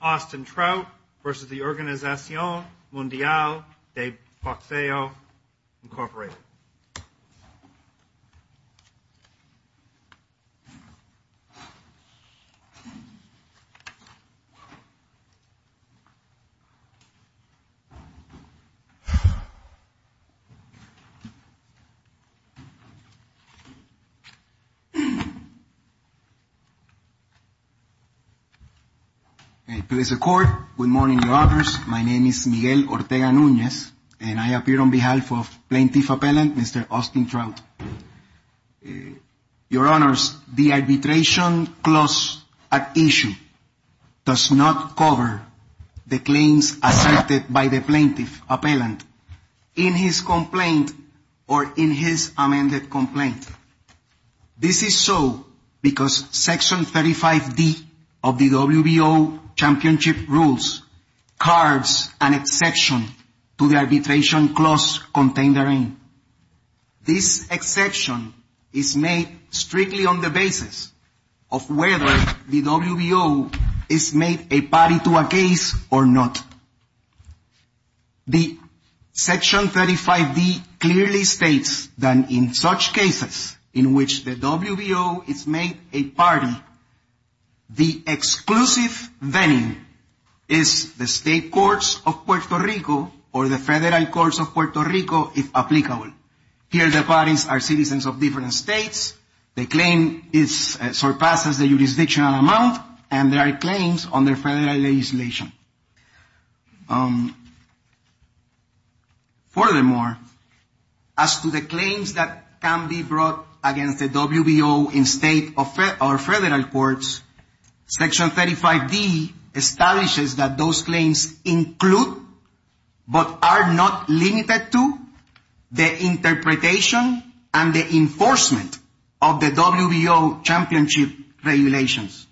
Austin Trout v. Org. Mundial de Boxeo, Inc. Miguel Ortega Nunez v. Plaintiff Appellant Section 35D of the WBO Championship Rules cards an exception to the arbitration clause contained therein. This exception is made strictly on the basis of whether the WBO is made a party to a case or not. The Section 35D clearly states that in such cases in which the WBO is made a party, the exclusive venue is the State Courts of Puerto Rico or the Federal Courts of Puerto Rico, if applicable. Here the parties are citizens of different states, the claim surpasses the jurisdictional amount, and there are claims under federal legislation. Furthermore, as to the claims that can be brought against the WBO in State or Federal Courts, Section 35D establishes that those claims include, but are not limited to, the interpretation and the enforcement of the WBO Championship Regulations.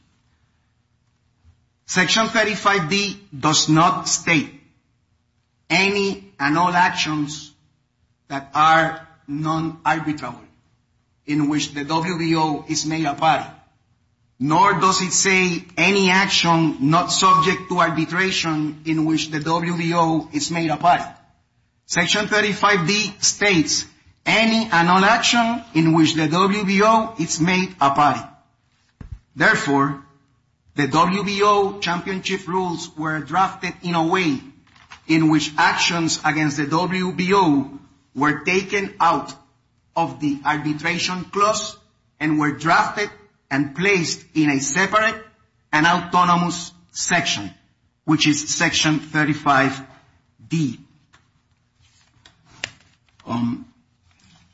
Section 35D does not state any and all actions that are non-arbitrary in which the WBO is made a party, nor does it say any action not subject to arbitration in which the WBO is made a party. Section 35D states any and all actions in which the WBO is made a party.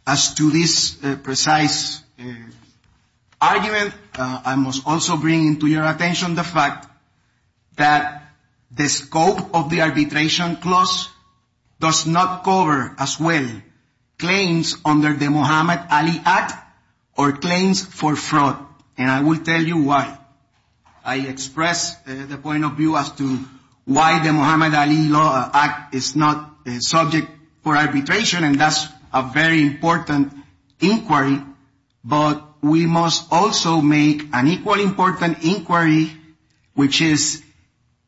As to this precise argument, I must also bring to your attention the fact that the scope of the arbitration clause does not cover, as well, claims under the Muhammad Ali Act or claims for fraud. And I will tell you why. I express the point of view as to why the Muhammad Ali Act is not subject for arbitration, and that's a very important inquiry. But we must also make an equally important inquiry, which is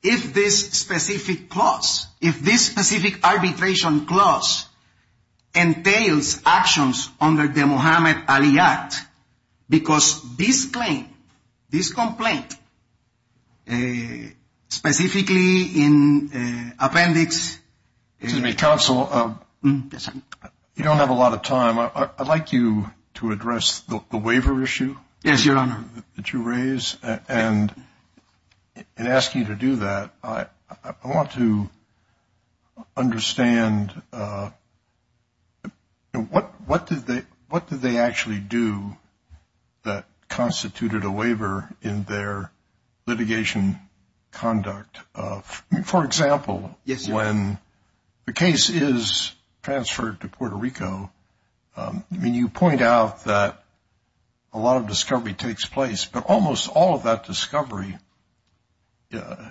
if this specific clause, if this specific arbitration clause entails actions under the Muhammad Ali Act, because this claim, this complaint, specifically in Appendix Excuse me, Counsel. Yes, sir. You don't have a lot of time. I'd like you to address the waiver issue. Yes, Your Honor. And in asking you to do that, I want to understand what did they actually do that constituted a waiver in their litigation conduct? For example, when the case is transferred to Puerto Rico, I mean, you point out that a lot of discovery takes place, but almost all of that discovery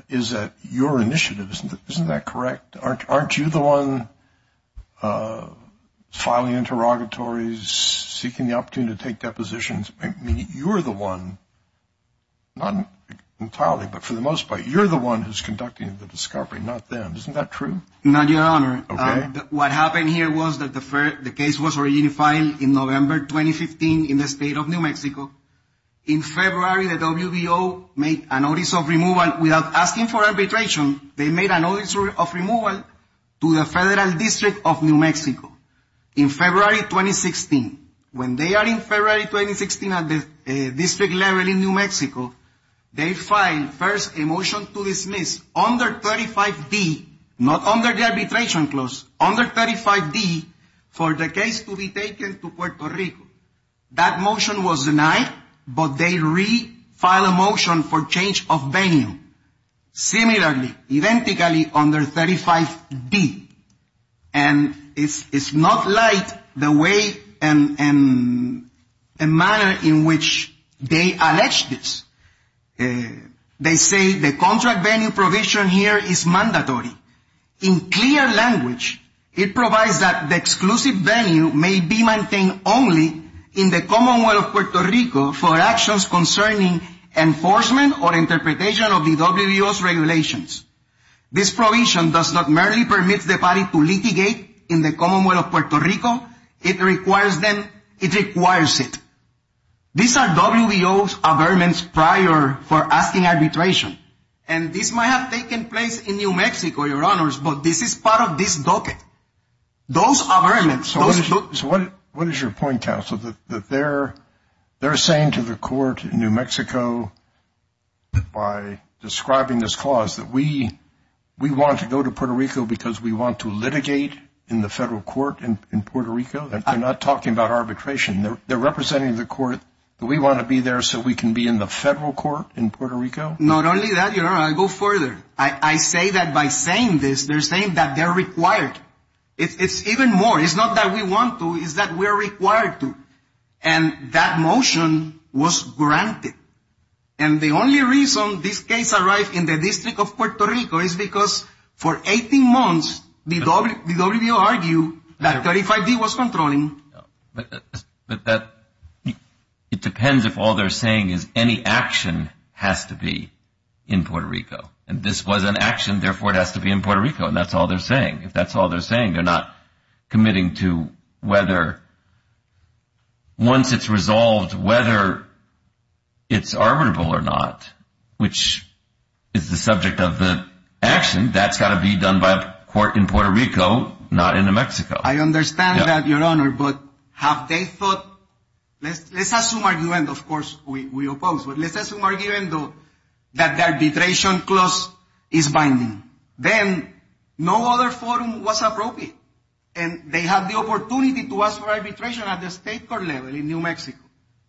is at your initiative. Isn't that correct? Aren't you the one filing interrogatories, seeking the opportunity to take depositions? I mean, you're the one, not entirely, but for the most part, you're the one who's conducting the discovery, not them. Isn't that true? Not, Your Honor. Okay. What happened here was that the case was originally filed in November 2015 in the state of New Mexico. In February, the WBO made a notice of removal. Without asking for arbitration, they made a notice of removal to the Federal District of New Mexico in February 2016. When they are in February 2016 at the district level in New Mexico, they filed first a motion to dismiss under 35D, not under the arbitration clause, under 35D for the case to be taken to Puerto Rico. That motion was denied, but they refiled a motion for change of venue. Similarly, identically, under 35D. And it's not like the way and manner in which they alleged this. They say the contract venue provision here is mandatory. In clear language, it provides that the exclusive venue may be maintained only in the Commonwealth of Puerto Rico for actions concerning enforcement or interpretation of the WBO's regulations. This provision does not merely permit the body to litigate in the Commonwealth of Puerto Rico. It requires it. These are WBO's averments prior for asking arbitration. And this might have taken place in New Mexico, your honors, but this is part of this docket. Those averments. So what is your point, counsel, that they're saying to the court in New Mexico by describing this clause that we want to go to Puerto Rico because we want to litigate in the federal court in Puerto Rico? They're not talking about arbitration. They're representing the court that we want to be there so we can be in the federal court in Puerto Rico? Not only that, your honor, I go further. I say that by saying this, they're saying that they're required. It's even more. It's not that we want to. It's that we're required to. And that motion was granted. And the only reason this case arrived in the District of Puerto Rico is because for 18 months the WBO argued that 35D was controlling. But it depends if all they're saying is any action has to be in Puerto Rico. And this was an action, therefore it has to be in Puerto Rico. And that's all they're saying. If that's all they're saying, they're not committing to whether once it's resolved whether it's arbitrable or not, which is the subject of the action, that's got to be done by a court in Puerto Rico, not in New Mexico. I understand that, your honor. But have they thought, let's assume argument, of course we oppose, but let's assume argument that the arbitration clause is binding. Then no other forum was appropriate. And they had the opportunity to ask for arbitration at the state court level in New Mexico.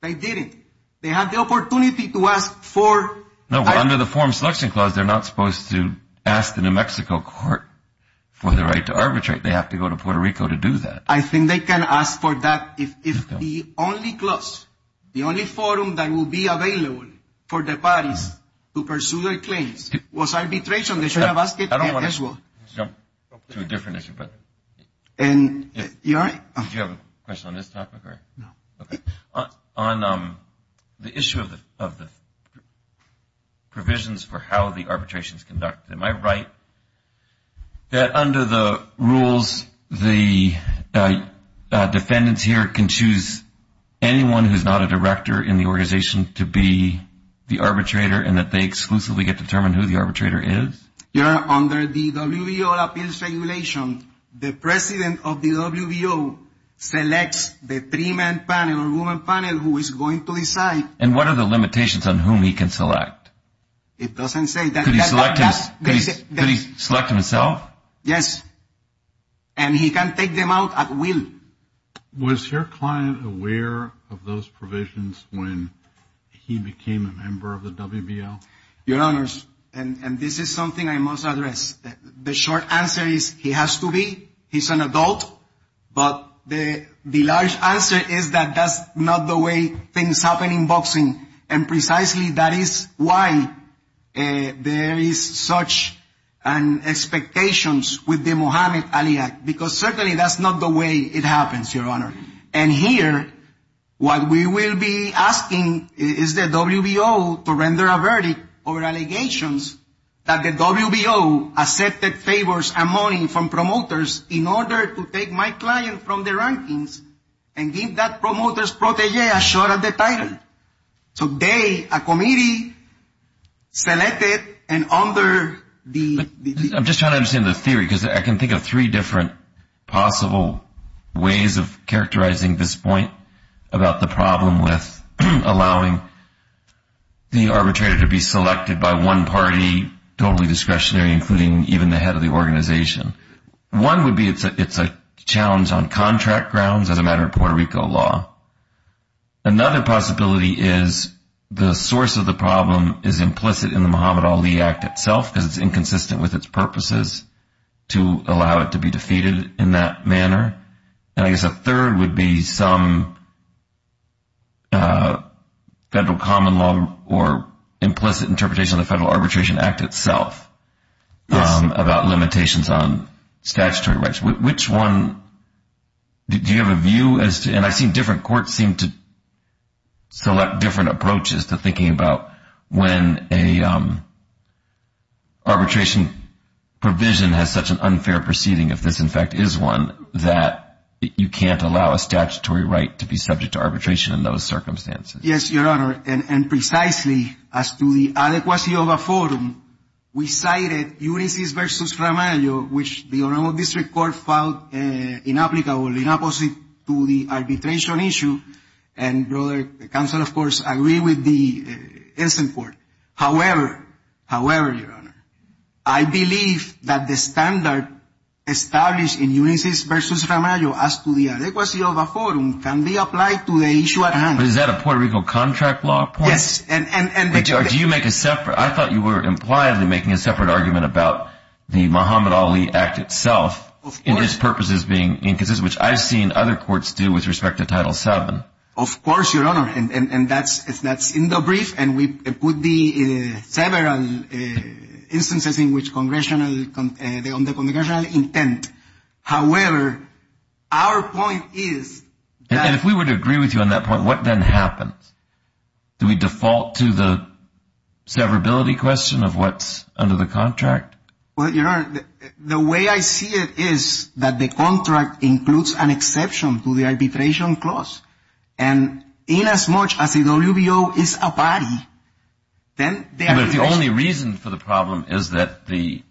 They didn't. They had the opportunity to ask for. No, under the forum selection clause, they're not supposed to ask the New Mexico court for the right to arbitrate. They have to go to Puerto Rico to do that. I think they can ask for that if the only clause, the only forum that will be available for the parties to pursue their claims was arbitration. They should have asked it as well. I don't want to jump to a different issue, but do you have a question on this topic? No. Okay. On the issue of the provisions for how the arbitration is conducted, am I right that under the rules, the defendants here can choose anyone who's not a director in the organization to be the arbitrator and that they exclusively get to determine who the arbitrator is? Your Honor, under the WBO appeals regulation, the president of the WBO selects the three-man panel or woman panel who is going to decide. And what are the limitations on whom he can select? It doesn't say that. Could he select himself? Yes. And he can take them out at will. Was your client aware of those provisions when he became a member of the WBO? Your Honors, and this is something I must address. The short answer is he has to be. He's an adult. But the large answer is that that's not the way things happen in boxing. And precisely that is why there is such an expectation with the Mohammed Ali Act, because certainly that's not the way it happens, Your Honor. And here, what we will be asking is the WBO to render a verdict over allegations that the WBO accepted favors and money from promoters in order to take my client from the rankings and give that promoter's protege a shot at the title. So they, a committee, selected and under the ---- about the problem with allowing the arbitrator to be selected by one party, totally discretionary, including even the head of the organization. One would be it's a challenge on contract grounds as a matter of Puerto Rico law. Another possibility is the source of the problem is implicit in the Mohammed Ali Act itself because it's inconsistent with its purposes to allow it to be defeated in that manner. And I guess a third would be some federal common law or implicit interpretation of the Federal Arbitration Act itself about limitations on statutory rights. Which one, do you have a view as to, and I've seen different courts seem to select different approaches to thinking about when an arbitration provision has such an unfair proceeding, if this, in fact, is one, that you can't allow a statutory right to be subject to arbitration in those circumstances? Yes, Your Honor, and precisely as to the adequacy of a forum, we cited Ulysses v. Romano, which the Oromo District Court filed inapplicable, inopposite to the arbitration issue. And, brother, the counsel, of course, agree with the instant court. However, however, Your Honor, I believe that the standard established in Ulysses v. Romano as to the adequacy of a forum can be applied to the issue at hand. But is that a Puerto Rico contract law point? Yes. But do you make a separate, I thought you were impliedly making a separate argument about the Mohammed Ali Act itself. Of course. And its purposes being inconsistent, which I've seen other courts do with respect to Title VII. Of course, Your Honor, and that's in the brief, and it would be several instances in which congressional intent. However, our point is that. And if we were to agree with you on that point, what then happens? Do we default to the severability question of what's under the contract? Well, Your Honor, the way I see it is that the contract includes an exception to the arbitration clause. And inasmuch as the WBO is a body, then the arbitration. But if the only reason for the problem is that the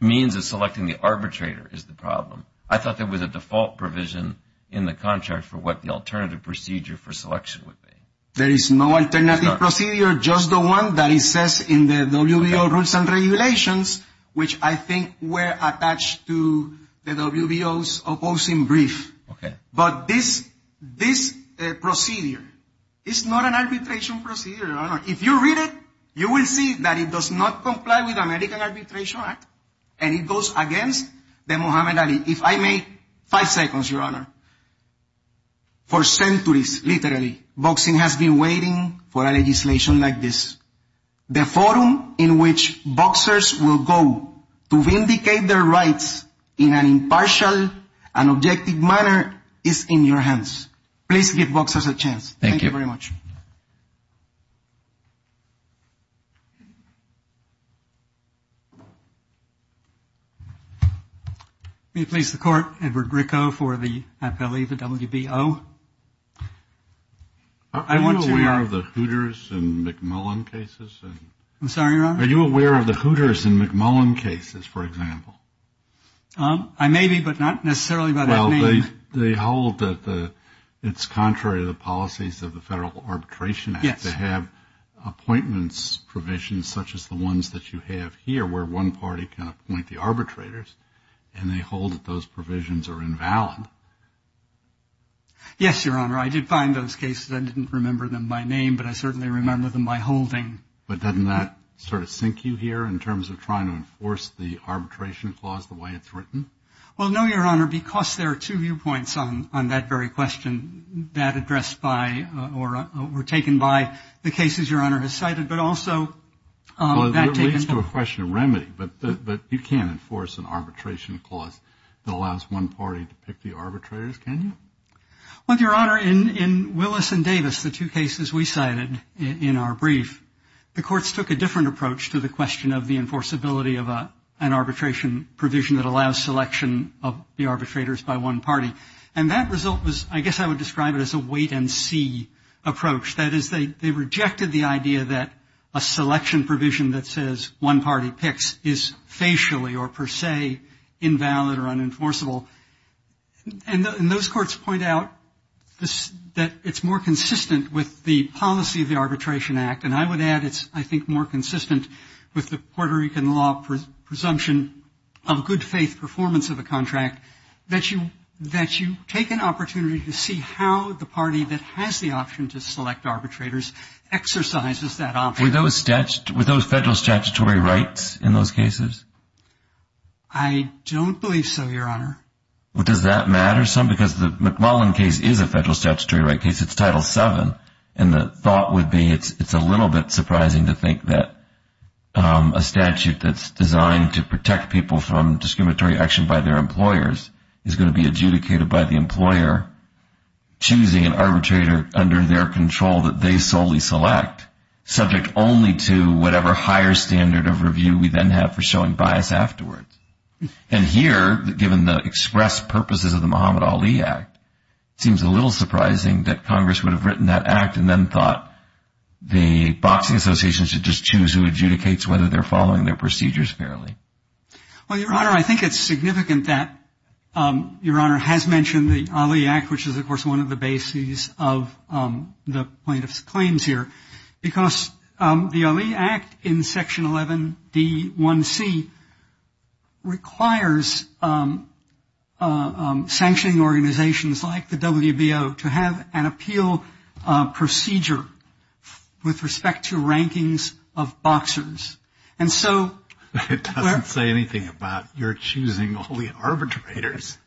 means of selecting the arbitrator is the problem, I thought there was a default provision in the contract for what the alternative procedure for selection would be. There is no alternative procedure, just the one that it says in the WBO rules and regulations, which I think were attached to the WBO's opposing brief. Okay. But this procedure is not an arbitration procedure, Your Honor. If you read it, you will see that it does not comply with the American Arbitration Act, and it goes against the Mohammed Ali. If I may, five seconds, Your Honor. For centuries, literally, boxing has been waiting for a legislation like this. The forum in which boxers will go to vindicate their rights in an impartial and objective manner is in your hands. Please give boxers a chance. Thank you very much. May it please the court. Edward Gricko for the WBO. I want to know the Hooters and McMullen cases. I'm sorry, Your Honor. Are you aware of the Hooters and McMullen cases, for example? I may be, but not necessarily. Well, they hold that it's contrary to the policies of the federal law. Yes. They have appointments provisions such as the ones that you have here, where one party can appoint the arbitrators, and they hold that those provisions are invalid. Yes, Your Honor. I did find those cases. I didn't remember them by name, but I certainly remember them by holding. But doesn't that sort of sink you here in terms of trying to enforce the arbitration clause the way it's written? Well, no, Your Honor, because there are two viewpoints on that very question that addressed by or were taken by the cases Your Honor has cited, but also that taken. Well, it leads to a question of remedy, but you can't enforce an arbitration clause that allows one party to pick the arbitrators, can you? Well, Your Honor, in Willis and Davis, the two cases we cited in our brief, the courts took a different approach to the question of the enforceability of an arbitration provision that allows selection of the arbitrators by one party. And that result was, I guess I would describe it as a wait-and-see approach. That is, they rejected the idea that a selection provision that says one party picks is facially or per se invalid or unenforceable. And those courts point out that it's more consistent with the policy of the Arbitration Act, and I would add it's, I think, more consistent with the Puerto Rican law presumption of good faith performance of a contract, that you take an opportunity to see how the party that has the option to select arbitrators exercises that option. Were those federal statutory rights in those cases? I don't believe so, Your Honor. Well, does that matter some? Because the McMullen case is a federal statutory right case. It's Title VII, and the thought would be it's a little bit surprising to think that a statute that's designed to protect people from discriminatory action by their employers is going to be adjudicated by the employer choosing an arbitrator under their control that they solely select, subject only to whatever higher standard of review we then have for showing bias afterwards. And here, given the express purposes of the Muhammad Ali Act, it seems a little surprising that Congress would have written that act and then thought the boxing association should just choose who adjudicates whether they're following their procedures fairly. Well, Your Honor, I think it's significant that Your Honor has mentioned the Ali Act, which is, of course, one of the bases of the plaintiff's claims here. Because the Ali Act in Section 11D1C requires sanctioning organizations like the WBO to have an appeal procedure with respect to rankings of boxers. And so we're --. It doesn't say anything about your choosing all the arbitrators.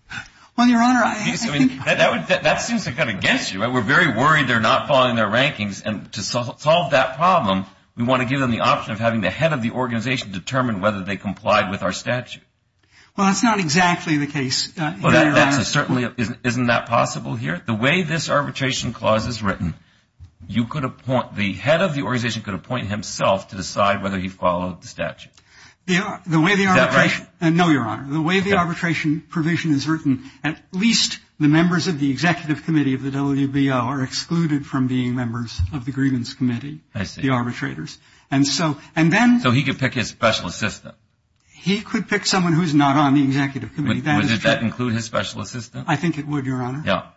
Well, Your Honor, I think --. That seems to cut against you. We're very worried they're not following their rankings. And to solve that problem, we want to give them the option of having the head of the organization determine whether they complied with our statute. Well, that's not exactly the case, Your Honor. Well, that certainly isn't that possible here? The way this arbitration clause is written, you could appoint, the head of the organization could appoint himself to decide whether he followed the statute. Is that right? No, Your Honor. The way the arbitration provision is written, at least the members of the Executive Committee of the WBO are excluded from being members of the Grievance Committee, the arbitrators. And so, and then --. So he could pick his special assistant. He could pick someone who's not on the Executive Committee. Would that include his special assistant? I think it would, Your Honor. Yeah.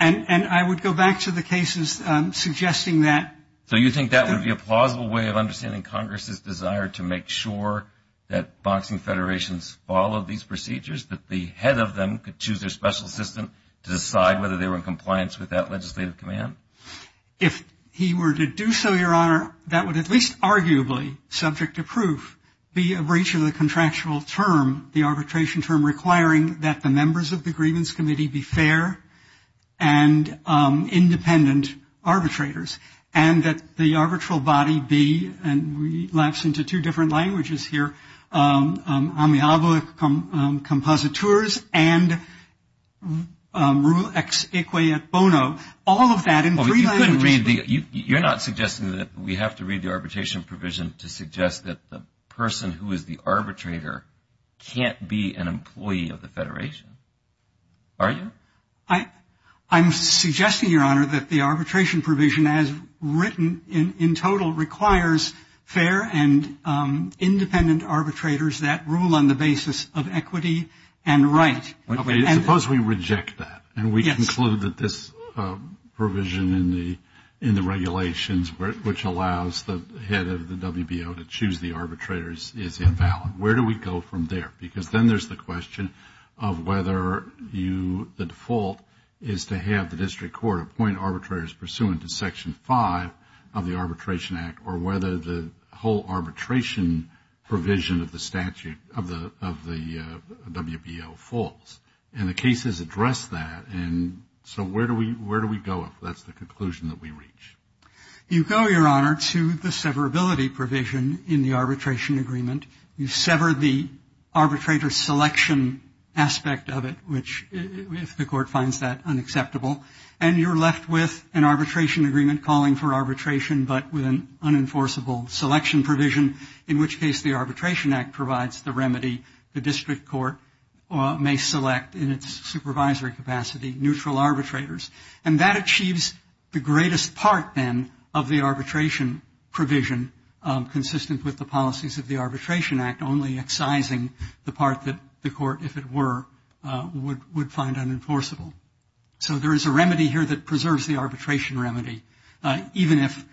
And I would go back to the cases suggesting that. So you think that would be a plausible way of understanding Congress's desire to make sure that boxing federations follow these procedures, that the head of them could choose their special assistant to decide whether they were in compliance with that legislative command? If he were to do so, Your Honor, that would at least arguably, subject to proof, be a breach of the contractual term, the arbitration term, requiring that the members of the Grievance Committee be fair and independent arbitrators. And that the arbitral body be, and we lapse into two different languages here, amiable compositores and rule ex equia bono. All of that in three languages. You're not suggesting that we have to read the arbitration provision to suggest that the person who is the arbitrator can't be an employee of the federation, are you? I'm suggesting, Your Honor, that the arbitration provision, as written in total, requires fair and independent arbitrators that rule on the basis of equity and right. Suppose we reject that and we conclude that this provision in the regulations, which allows the head of the WBO to choose the arbitrators, is invalid. Where do we go from there? Because then there's the question of whether you, the default, is to have the district court appoint arbitrators pursuant to Section 5 of the Arbitration Act or whether the whole arbitration provision of the statute, of the WBO, falls. And the cases address that. And so where do we go if that's the conclusion that we reach? You go, Your Honor, to the severability provision in the arbitration agreement. You sever the arbitrator selection aspect of it, which, if the court finds that unacceptable, and you're left with an arbitration agreement calling for arbitration but with an unenforceable selection provision, in which case the Arbitration Act provides the remedy the district court may select in its supervisory capacity, neutral arbitrators. And that achieves the greatest part, then, of the arbitration provision, consistent with the policies of the Arbitration Act, only excising the part that the court, if it were, would find unenforceable. So there is a remedy here that preserves the arbitration remedy, even if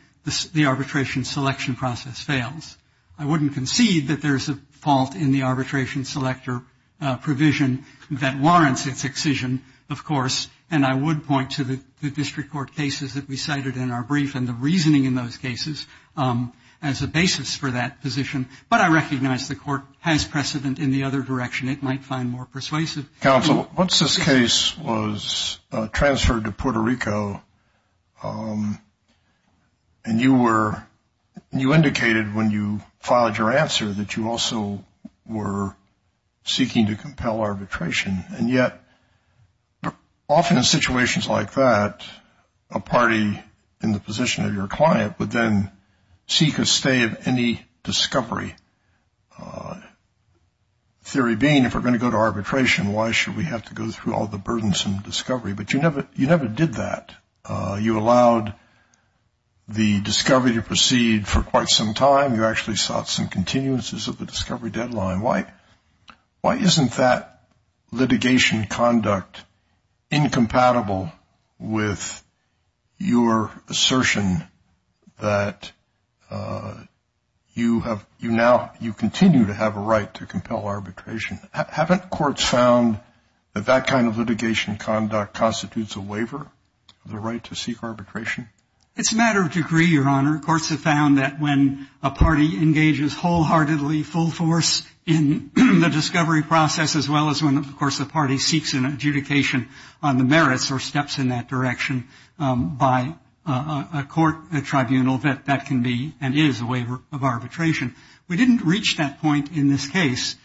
the arbitration selection process fails. I wouldn't concede that there's a fault in the arbitration selector provision that warrants its excision, of course, and I would point to the district court cases that we cited in our brief and the reasoning in those cases as a basis for that position. But I recognize the court has precedent in the other direction. It might find more persuasive. Counsel, once this case was transferred to Puerto Rico, and you indicated when you filed your answer that you also were seeking to compel arbitration, and yet often in situations like that a party in the position of your client would then seek a stay of any discovery, theory being if we're going to go to arbitration, why should we have to go through all the burdensome discovery? But you never did that. You allowed the discovery to proceed for quite some time. You actually sought some continuances of the discovery deadline. Why isn't that litigation conduct incompatible with your assertion that you continue to have a right to compel arbitration? Haven't courts found that that kind of litigation conduct constitutes a waiver, the right to seek arbitration? It's a matter of degree, Your Honor. Courts have found that when a party engages wholeheartedly, full force in the discovery process, as well as when, of course, the party seeks an adjudication on the merits or steps in that direction by a court, a tribunal, that that can be and is a waiver of arbitration. We didn't reach that point in this case.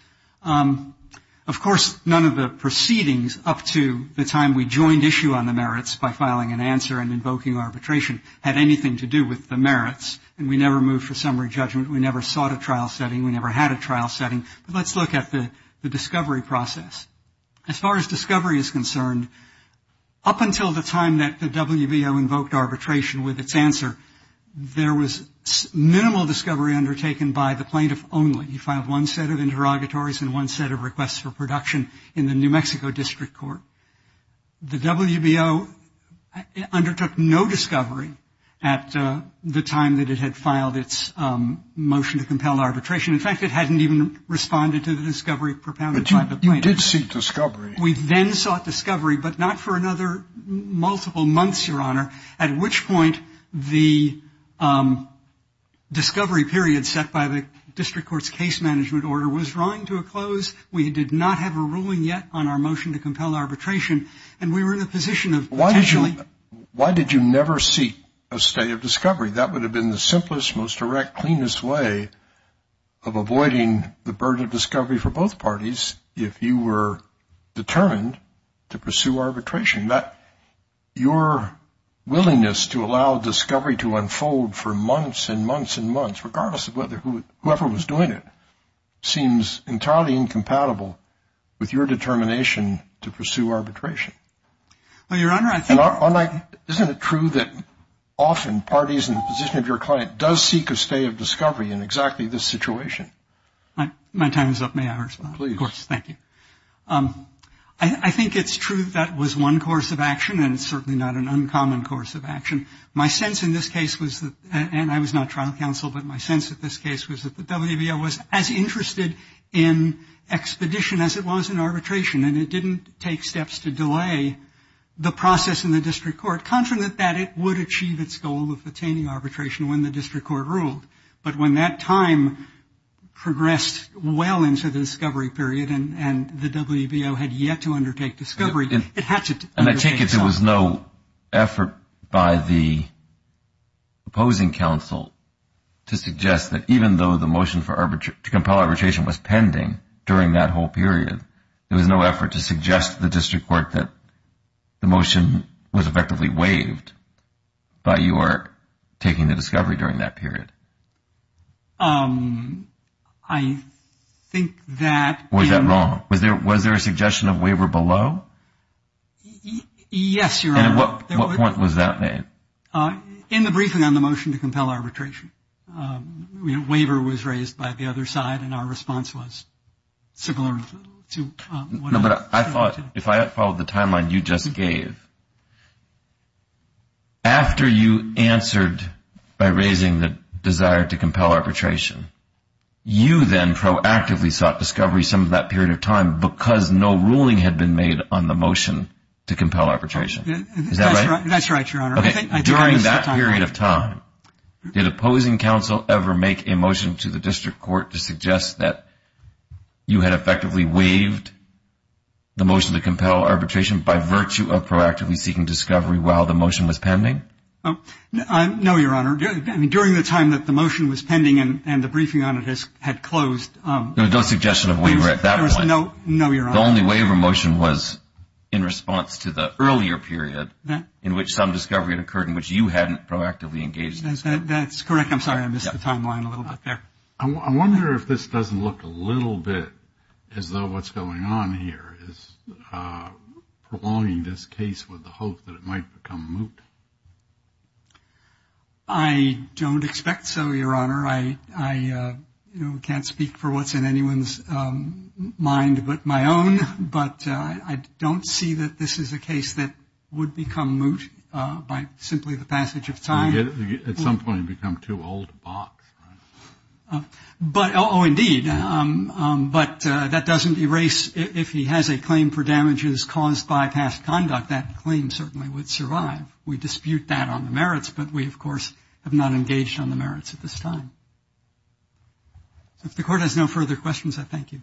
Of course, none of the proceedings up to the time we joined issue on the merits by filing an answer and invoking arbitration had anything to do with the merits, and we never moved for summary judgment. We never sought a trial setting. We never had a trial setting. But let's look at the discovery process. As far as discovery is concerned, up until the time that the WBO invoked arbitration with its answer, there was minimal discovery undertaken by the plaintiff only. You filed one set of interrogatories and one set of requests for production in the New Mexico District Court. The WBO undertook no discovery at the time that it had filed its motion to compel arbitration. In fact, it hadn't even responded to the discovery propounded by the plaintiff. You did seek discovery. We then sought discovery, but not for another multiple months, Your Honor, at which point the discovery period set by the District Court's case management order was drawing to a close. We did not have a ruling yet on our motion to compel arbitration, and we were in the position of potentially. Why did you never seek a state of discovery? That would have been the simplest, most direct, cleanest way of avoiding the burden of discovery for both parties if you were determined to pursue arbitration. Your willingness to allow discovery to unfold for months and months and months, regardless of whoever was doing it, seems entirely incompatible with your determination to pursue arbitration. Well, Your Honor, I think. Isn't it true that often parties in the position of your client does seek a state of discovery in exactly this situation? My time is up. May I respond? Please. Of course. Thank you. I think it's true that was one course of action, and it's certainly not an uncommon course of action. My sense in this case was that, and I was not trial counsel, but my sense in this case was that the WBO was as interested in expedition as it was in arbitration, and it didn't take steps to delay the process in the District Court, confident that it would achieve its goal of attaining arbitration when the District Court ruled. But when that time progressed well into the discovery period and the WBO had yet to undertake discovery, it had to. And I take it there was no effort by the opposing counsel to suggest that even though the motion to compel arbitration was pending during that whole period, there was no effort to suggest to the District Court that the motion was effectively waived by your taking the discovery during that period? I think that. Was that wrong? Was there a suggestion of waiver below? Yes, Your Honor. And at what point was that made? In the briefing on the motion to compel arbitration. Waiver was raised by the other side, and our response was similar to what I said. No, but I thought if I had followed the timeline you just gave, after you answered by raising the desire to compel arbitration, you then proactively sought discovery some of that period of time because no ruling had been made on the motion to compel arbitration. Is that right? That's right, Your Honor. Okay. During that period of time, did opposing counsel ever make a motion to the District Court to suggest that you had effectively waived the motion to compel arbitration by virtue of proactively seeking discovery while the motion was pending? No, Your Honor. During the time that the motion was pending and the briefing on it had closed. There was no suggestion of waiver at that point. No, Your Honor. The only waiver motion was in response to the earlier period in which some discovery had occurred in which you hadn't proactively engaged. That's correct. I'm sorry, I missed the timeline a little bit there. I wonder if this doesn't look a little bit as though what's going on here is prolonging this case with the hope that it might become moot. I don't expect so, Your Honor. I can't speak for what's in anyone's mind but my own, but I don't see that this is a case that would become moot by simply the passage of time. At some point it would become too old a box. Oh, indeed. But that doesn't erase if he has a claim for damages caused by past conduct. That claim certainly would survive. We dispute that on the merits, but we, of course, have not engaged on the merits at this time. If the Court has no further questions, I thank you.